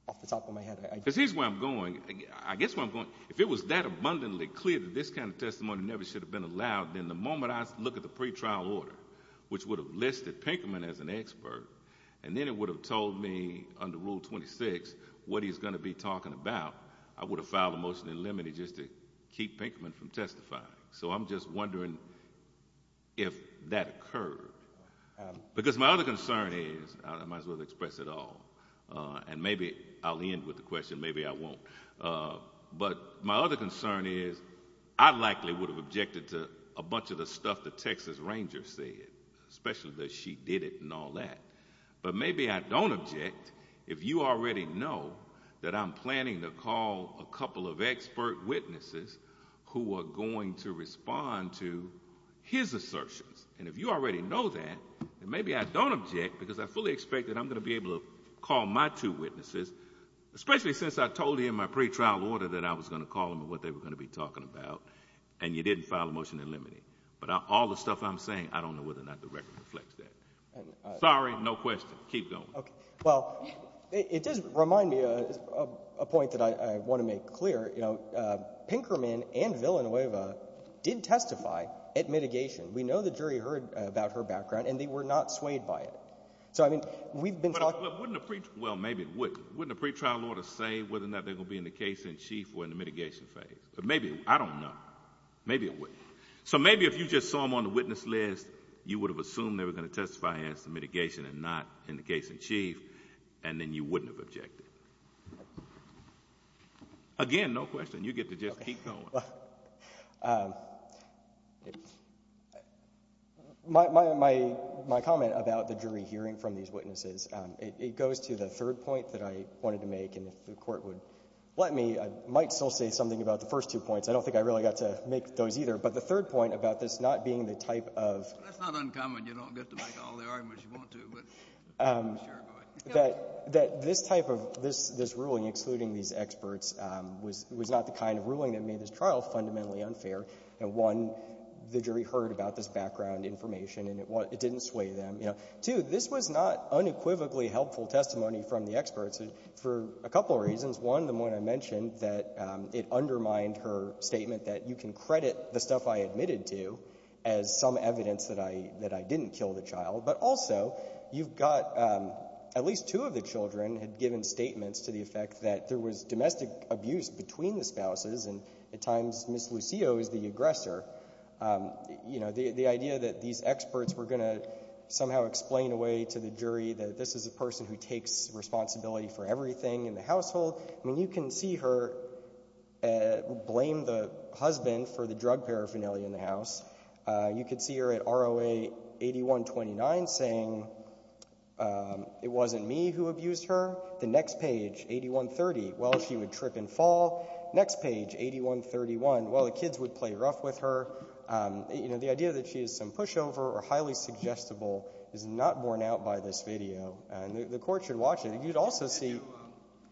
Off the top of my head. Because here's where I'm going. I guess where I'm going. If it was that abundantly clear that this kind of testimony never should have been allowed, then the moment I look at the pretrial order, which would have listed Pinkerman as an expert, and then it would have told me under Rule 26 what he's going to be talking about, I would have filed a motion in limine just to keep Pinkerman from testifying. So I'm just wondering if that occurred. Because my other concern is, I might as well express it all, and maybe I'll end with the question. Maybe I won't. But my other concern is I likely would have objected to a bunch of the stuff the Texas Ranger said, especially that she did it and all that. But maybe I don't object if you already know that I'm planning to call a couple of expert witnesses who are going to respond to his assertions. And if you already know that, then maybe I don't object because I fully expect that I'm going to be able to call my two witnesses, especially since I told you in my pretrial order that I was going to call them and what they were going to be talking about, and you didn't file a motion in limine. But all the stuff I'm saying, I don't know whether or not the record reflects that. Sorry, no question. Keep going. Okay. Well, it does remind me of a point that I want to make clear. Pinkerman and Villanueva did testify at mitigation. We know the jury heard about her background, and they were not swayed by it. So, I mean, we've been talking – Well, maybe it wouldn't. Wouldn't a pretrial order say whether or not they're going to be in the case in chief or in the mitigation phase? But maybe – I don't know. Maybe it wouldn't. So maybe if you just saw them on the witness list, you would have assumed they were going to testify as to mitigation and not in the case in chief, and then you wouldn't have objected. Again, no question. You get to just keep going. Okay. Well, my comment about the jury hearing from these witnesses, it goes to the third point that I wanted to make, and if the court would let me, I might still say something about the first two points. I don't think I really got to make those either. But the third point about this not being the type of – That's not uncommon. You don't get to make all the arguments you want to, but sure, go ahead. That this type of – this ruling excluding these experts was not the kind of ruling that made this trial fundamentally unfair. One, the jury heard about this background information, and it didn't sway them. Two, this was not unequivocally helpful testimony from the experts for a couple of reasons. One, the one I mentioned, that it undermined her statement that you can credit the stuff I admitted to as some evidence that I didn't kill the child. But also, you've got at least two of the children had given statements to the effect that there was domestic abuse between the spouses, and at times Ms. Lucio is the aggressor. The idea that these experts were going to somehow explain away to the jury that this is a person who takes responsibility for everything in the household, I mean you can see her blame the husband for the drug paraphernalia in the house. You could see her at ROA 8129 saying it wasn't me who abused her. The next page, 8130, well, she would trip and fall. Next page, 8131, well, the kids would play rough with her. You know, the idea that she is some pushover or highly suggestible is not borne out by this video, and the Court should watch it. And you'd also see— Did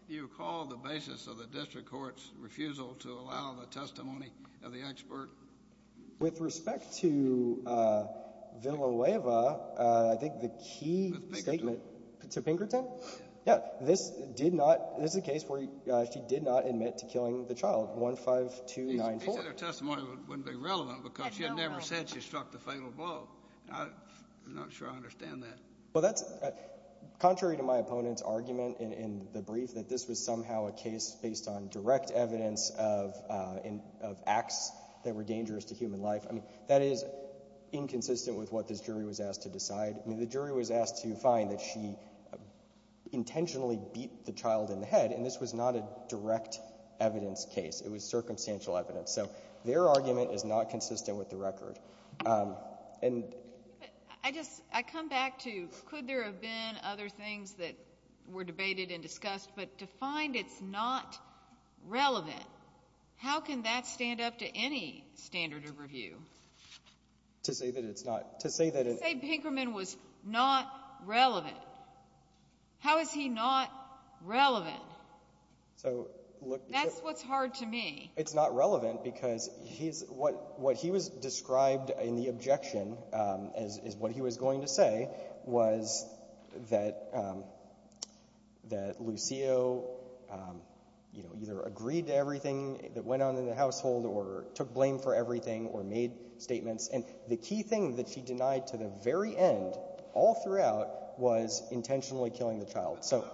you call the basis of the district court's refusal to allow the testimony of the expert? With respect to Villaloeva, I think the key statement— With Pinkerton. To Pinkerton? Yes. This is a case where she did not admit to killing the child, 15294. She said her testimony wouldn't be relevant because she had never said she struck the fatal blow. I'm not sure I understand that. Well, that's contrary to my opponent's argument in the brief that this was somehow a case based on direct evidence of acts that were dangerous to human life. I mean that is inconsistent with what this jury was asked to decide. I mean the jury was asked to find that she intentionally beat the child in the head, and this was not a direct evidence case. It was circumstantial evidence. So their argument is not consistent with the record. And— I just—I come back to could there have been other things that were debated and discussed, but to find it's not relevant, how can that stand up to any standard of review? To say that it's not— To say Pinkerton was not relevant. How is he not relevant? So look— That's what's hard to me. It's not relevant because what he was described in the objection as what he was going to say was that Lucio either agreed to everything that went on in the household or took blame for everything or made statements. And the key thing that she denied to the very end all throughout was intentionally killing the child. So—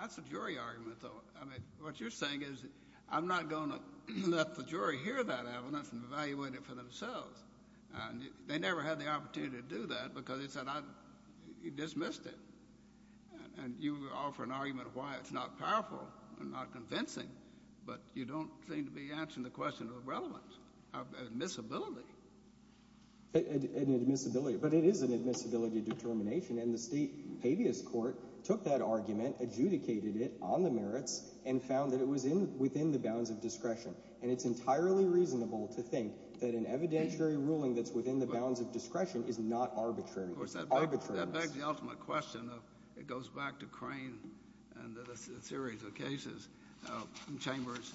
That's a jury argument, though. I mean what you're saying is I'm not going to let the jury hear that evidence and evaluate it for themselves. They never had the opportunity to do that because he said I—he dismissed it. And you offer an argument why it's not powerful and not convincing, but you don't seem to be answering the question of relevance, of admissibility. Admissibility. But it is an admissibility determination, and the state habeas court took that argument, adjudicated it on the merits, and found that it was within the bounds of discretion. And it's entirely reasonable to think that an evidentiary ruling that's within the bounds of discretion is not arbitrary. It's arbitrary. That begs the ultimate question of—it goes back to Crane and a series of cases, Chambers,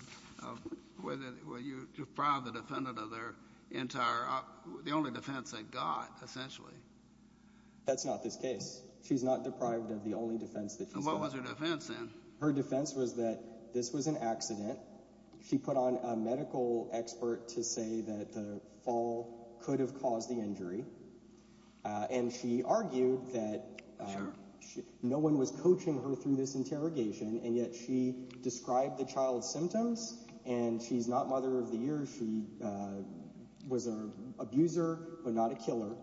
where you deprived the defendant of their entire—the only defense they got, essentially. That's not this case. She's not deprived of the only defense that she's got. What was her defense then? Her defense was that this was an accident. She put on a medical expert to say that the fall could have caused the injury. And she argued that no one was coaching her through this interrogation, and yet she described the child's symptoms, and she's not mother of the year. She was an abuser but not a killer.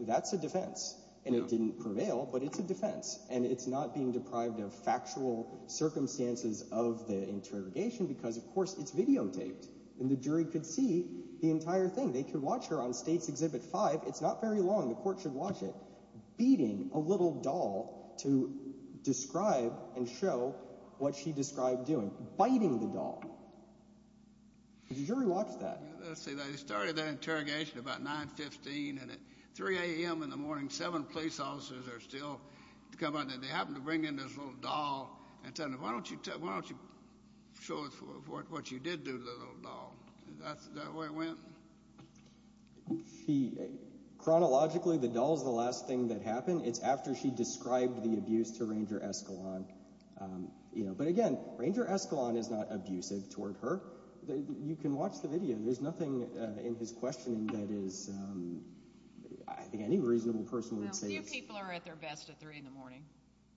That's a defense. And it didn't prevail, but it's a defense. And it's not being deprived of factual circumstances of the interrogation because, of course, it's videotaped, and the jury could see the entire thing. They could watch her on States Exhibit 5. It's not very long. The court should watch it, beating a little doll to describe and show what she described doing, biting the doll. The jury watched that. Let's see. They started that interrogation about 9, 15, and at 3 a.m. in the morning, seven police officers are still coming. And they happen to bring in this little doll and tell them, why don't you show us what you did to the little doll? Is that the way it went? Chronologically, the doll is the last thing that happened. It's after she described the abuse to Ranger Escalon. But, again, Ranger Escalon is not abusive toward her. You can watch the video. There's nothing in his questioning that is – I think any reasonable person would say it's – Well, few people are at their best at 3 in the morning.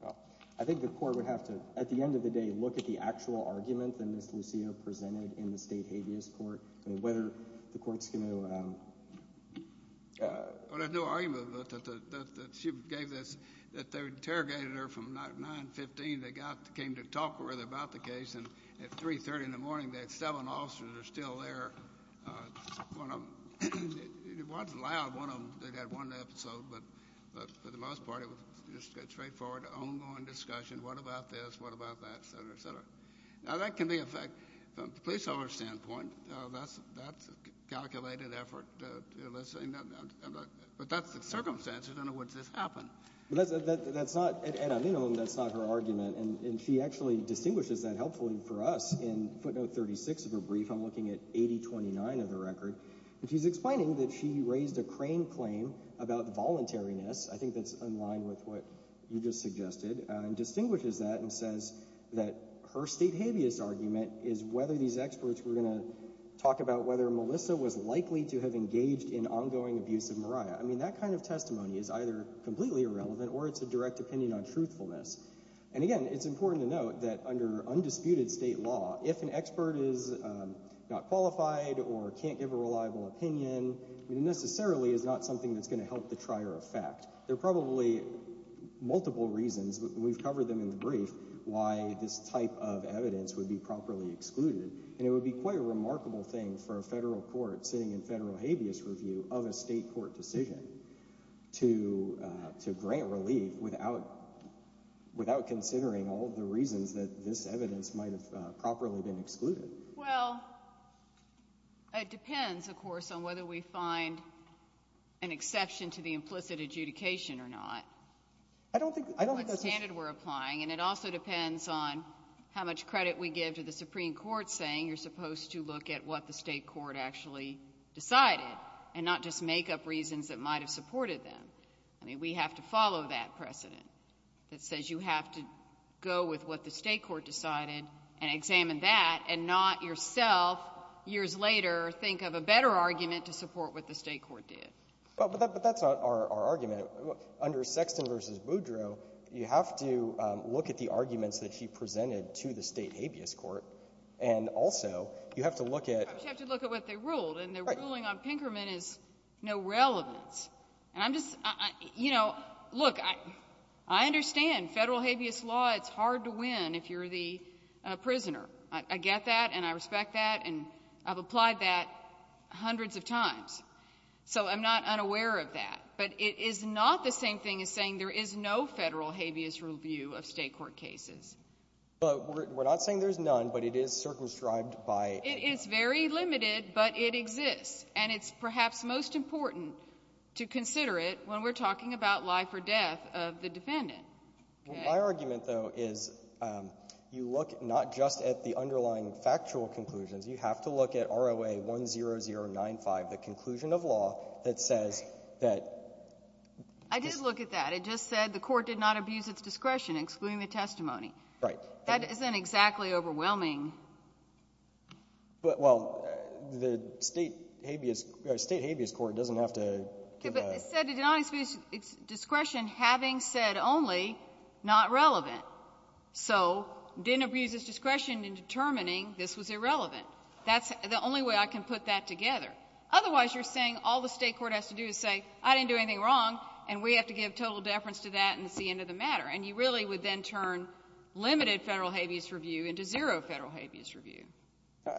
Well, I think the court would have to, at the end of the day, look at the actual argument that Ms. Lucio presented in the state habeas court and whether the court's going to – Well, there's no argument that she gave this – that they interrogated her from 9, 15. They came to talk with her about the case, and at 3 a.m. in the morning, they had seven officers that are still there. One of them – it wasn't loud. One of them, they got one episode, but for the most part, it was just a straightforward, ongoing discussion. What about this? What about that? Et cetera, et cetera. Now, that can be a fact from the police officer's standpoint. That's a calculated effort. But that's the circumstance. I don't know what just happened. That's not – at a minimum, that's not her argument, and she actually distinguishes that helpfully for us. In footnote 36 of her brief, I'm looking at 8029 of the record, and she's explaining that she raised a crane claim about voluntariness. I think that's in line with what you just suggested, and distinguishes that and says that her state habeas argument is whether these experts were going to talk about whether Melissa was likely to have engaged in ongoing abuse of Mariah. I mean, that kind of testimony is either completely irrelevant or it's a direct opinion on truthfulness. And again, it's important to note that under undisputed state law, if an expert is not qualified or can't give a reliable opinion, it necessarily is not something that's going to help the trier of fact. There are probably multiple reasons – we've covered them in the brief – why this type of evidence would be properly excluded. And it would be quite a remarkable thing for a federal court sitting in federal habeas review of a state court decision to grant relief without considering all of the reasons that this evidence might have properly been excluded. Well, it depends, of course, on whether we find an exception to the implicit adjudication or not. I don't think that's a standard we're applying. And it also depends on how much credit we give to the Supreme Court saying you're supposed to look at what the state court actually decided, and not just make up reasons that might have supported them. I mean, we have to follow that precedent that says you have to go with what the state court decided and examine that, and not yourself years later think of a better argument to support what the state court did. But that's not our argument. Under Sexton v. Boudreau, you have to look at the arguments that he presented to the state habeas court, and also you have to look at – You have to look at what they ruled, and the ruling on Pinkerman is no relevance. And I'm just – you know, look, I understand federal habeas law, it's hard to win if you're the prisoner. I get that, and I respect that, and I've applied that hundreds of times. So I'm not unaware of that. But it is not the same thing as saying there is no federal habeas review of state court cases. But we're not saying there's none, but it is circumscribed by – It is very limited, but it exists. And it's perhaps most important to consider it when we're talking about life or death of the defendant. My argument, though, is you look not just at the underlying factual conclusions. You have to look at ROA 10095, the conclusion of law that says that – I did look at that. It just said the court did not abuse its discretion, excluding the testimony. Right. That isn't exactly overwhelming. Well, the state habeas court doesn't have to – It said it did not abuse its discretion, having said only, not relevant. So didn't abuse its discretion in determining this was irrelevant. That's the only way I can put that together. Otherwise, you're saying all the state court has to do is say, I didn't do anything wrong, and we have to give total deference to that, and it's the end of the matter. And you really would then turn limited federal habeas review into zero federal habeas review.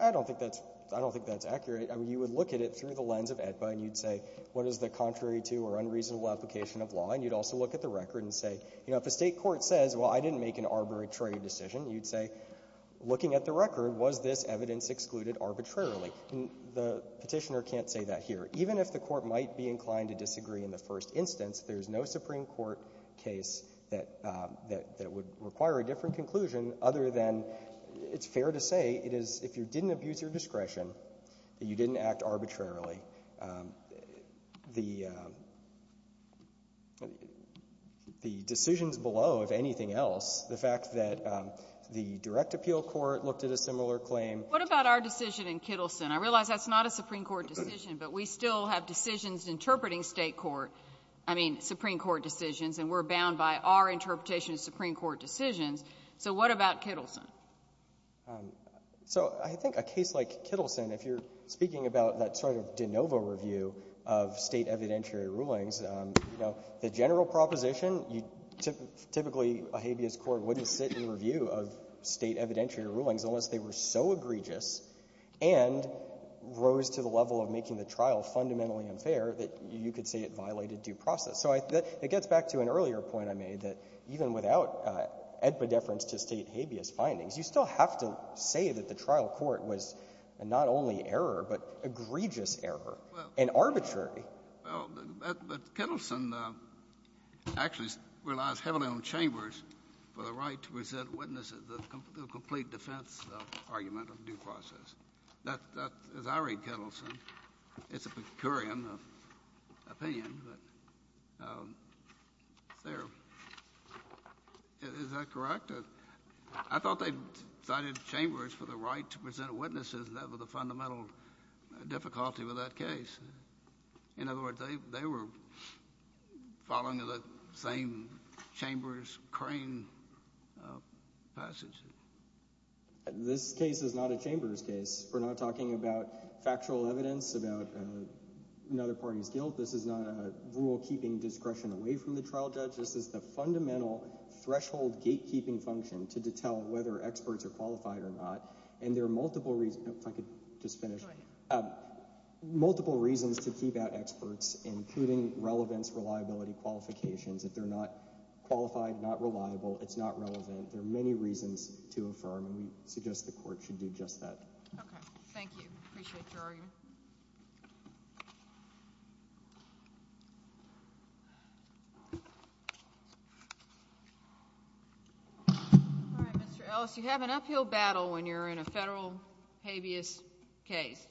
I don't think that's – I don't think that's accurate. I mean, you would look at it through the lens of AEDPA, and you'd say, what is the contrary to or unreasonable application of law? And you'd also look at the record and say, you know, if a state court says, well, I didn't make an arbitrary decision, you'd say, looking at the record, was this evidence excluded arbitrarily? And the Petitioner can't say that here. Even if the court might be inclined to disagree in the first instance, there is no Supreme Court case that would require a different conclusion other than it's fair to say it is, if you didn't abuse your discretion, that you didn't act arbitrarily. The decisions below, if anything else, the fact that the direct appeal court looked at a similar claim. What about our decision in Kittleson? I realize that's not a Supreme Court decision, but we still have decisions interpreting state court – I mean, Supreme Court decisions, and we're bound by our interpretation of Supreme Court decisions. So what about Kittleson? So I think a case like Kittleson, if you're speaking about that sort of de novo review of state evidentiary rulings, you know, the general proposition, typically a habeas court wouldn't sit in review of state evidentiary rulings unless they were so egregious and rose to the level of making the trial fundamentally unfair that you could say it violated due process. So it gets back to an earlier point I made that even without epidefference to state habeas findings, you still have to say that the trial court was not only error, but egregious error and arbitrary. Well, but Kittleson actually relies heavily on Chambers for the right to present witnesses to a complete defense argument of due process. As I read Kittleson, it's a Pecurian opinion, but there. Is that correct? I thought they cited Chambers for the right to present witnesses. That was the fundamental difficulty with that case. In other words, they were following the same Chambers crane passage. This case is not a Chambers case. We're not talking about factual evidence about another party's guilt. This is not a rule keeping discretion away from the trial judge. This is the fundamental threshold gatekeeping function to tell whether experts are qualified or not. And there are multiple reasons to keep out experts, including relevance, reliability, qualifications. If they're not qualified, not reliable, it's not relevant. There are many reasons to affirm, and we suggest the court should do just that. Okay. Thank you. Appreciate your argument. All right, Mr. Ellis. You have an uphill battle when you're in a federal habeas case.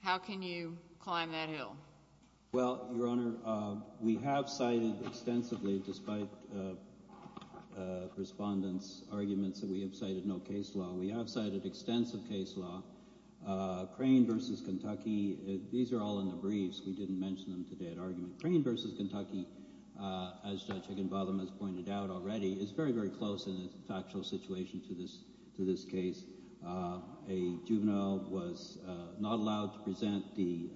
How can you climb that hill? Well, Your Honor, we have cited extensively, despite respondents' arguments that we have cited no case law. We have cited extensive case law. Crane versus Kentucky, these are all in the briefs. We didn't mention them today at argument. Crane versus Kentucky, as Judge Higginbotham has pointed out already, is very, very close in its factual situation to this case. A juvenile was not allowed to present the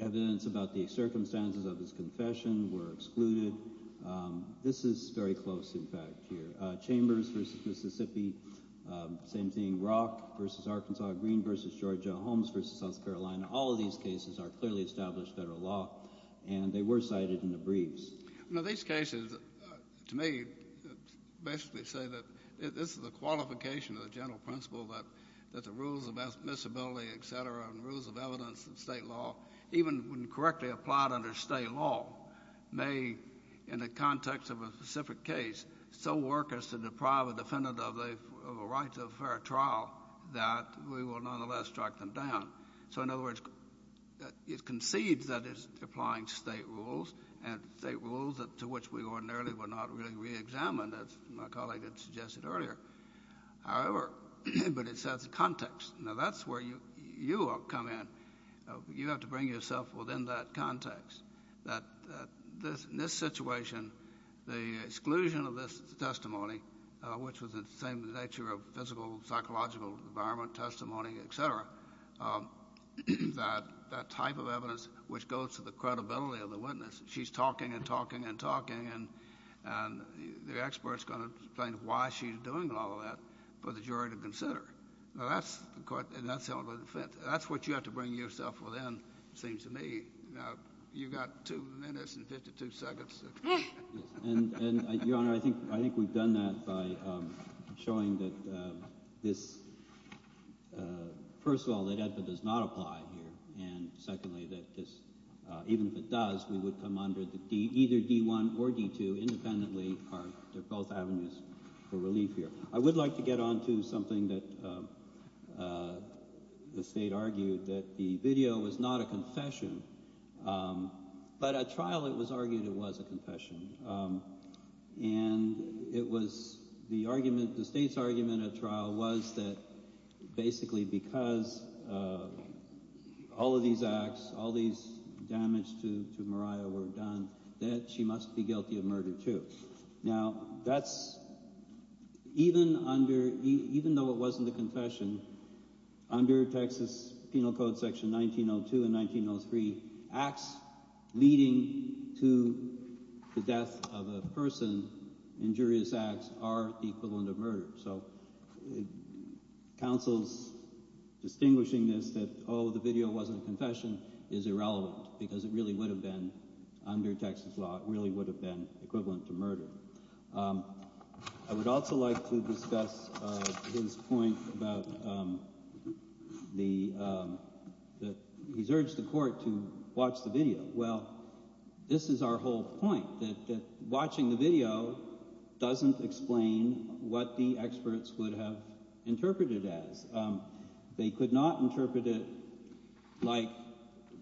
evidence about the circumstances of his confession, were excluded. This is very close, in fact, here. Chambers versus Mississippi, same thing. Rock versus Arkansas. Green versus Georgia. Holmes versus South Carolina. All of these cases are clearly established federal law, and they were cited in the briefs. You know, these cases, to me, basically say that this is a qualification of the general principle that the rules of admissibility, et cetera, and rules of evidence in state law, even when correctly applied under state law, may, in the context of a specific case, so work as to deprive a defendant of a right to a fair trial that we will nonetheless strike them down. So, in other words, it concedes that it's applying state rules, and state rules to which we ordinarily would not really reexamine, as my colleague had suggested earlier. However, but it sets a context. Now, that's where you come in. You have to bring yourself within that context. In this situation, the exclusion of this testimony, which was the same nature of physical, psychological, environment, testimony, et cetera, that type of evidence which goes to the credibility of the witness because she's talking and talking and talking, and the expert's going to explain why she's doing all of that for the jury to consider. Now, that's what you have to bring yourself within, it seems to me. Now, you've got 2 minutes and 52 seconds. And, Your Honor, I think we've done that by showing that this, first of all, that it does not apply here, and secondly, that this, even if it does, we would come under either D-1 or D-2 independently. They're both avenues for relief here. I would like to get on to something that the state argued, that the video was not a confession, but at trial it was argued it was a confession. And it was the argument, the state's argument at trial, was that basically because all of these acts, all these damage to Mariah were done, that she must be guilty of murder too. Now, that's, even though it wasn't a confession, under Texas Penal Code section 1902 and 1903, acts leading to the death of a person, injurious acts, are the equivalent of murder. So counsel's distinguishing this, that, oh, the video wasn't a confession, is irrelevant because it really would have been, under Texas law, it really would have been equivalent to murder. I would also like to discuss his point about the, that he's urged the court to watch the video. Well, this is our whole point, that watching the video doesn't explain what the experts would have interpreted as. They could not interpret it like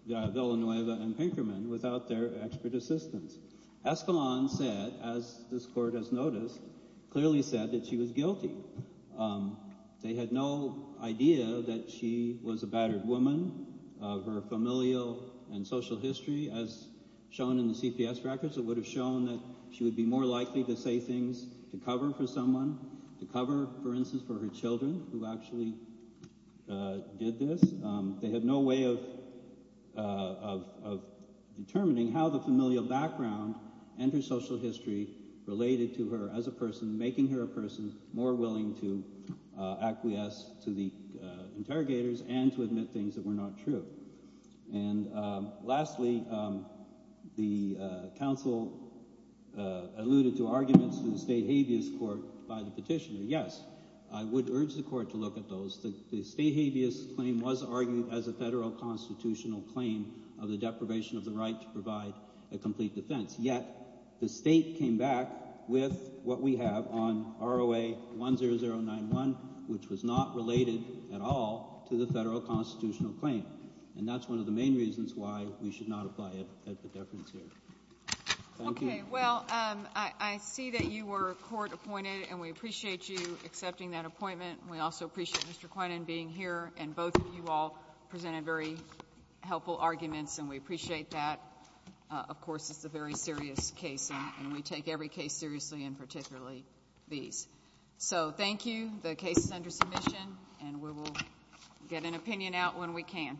Villanueva and Pinkerman without their expert assistance. Escalon said, as this court has noticed, clearly said that she was guilty. They had no idea that she was a battered woman. Her familial and social history, as shown in the CPS records, it would have shown that she would be more likely to say things to cover for someone, to cover, for instance, for her children, who actually did this. They had no way of determining how the familial background and her social history related to her as a person, making her a person more willing to acquiesce to the interrogators and to admit things that were not true. And lastly, the counsel alluded to arguments in the state habeas court by the petitioner. Yes, I would urge the court to look at those. The state habeas claim was argued as a federal constitutional claim of the deprivation of the right to provide a complete defense. Yet the state came back with what we have on ROA 10091, which was not related at all to the federal constitutional claim. And that's one of the main reasons why we should not apply it at the deference here. Thank you. Okay. Well, I see that you were court appointed, and we appreciate you accepting that appointment. We also appreciate Mr. Quinan being here. And both of you all presented very helpful arguments, and we appreciate that. Of course, it's a very serious case, and we take every case seriously, and particularly these. So thank you. The case is under submission, and we will get an opinion out when we can.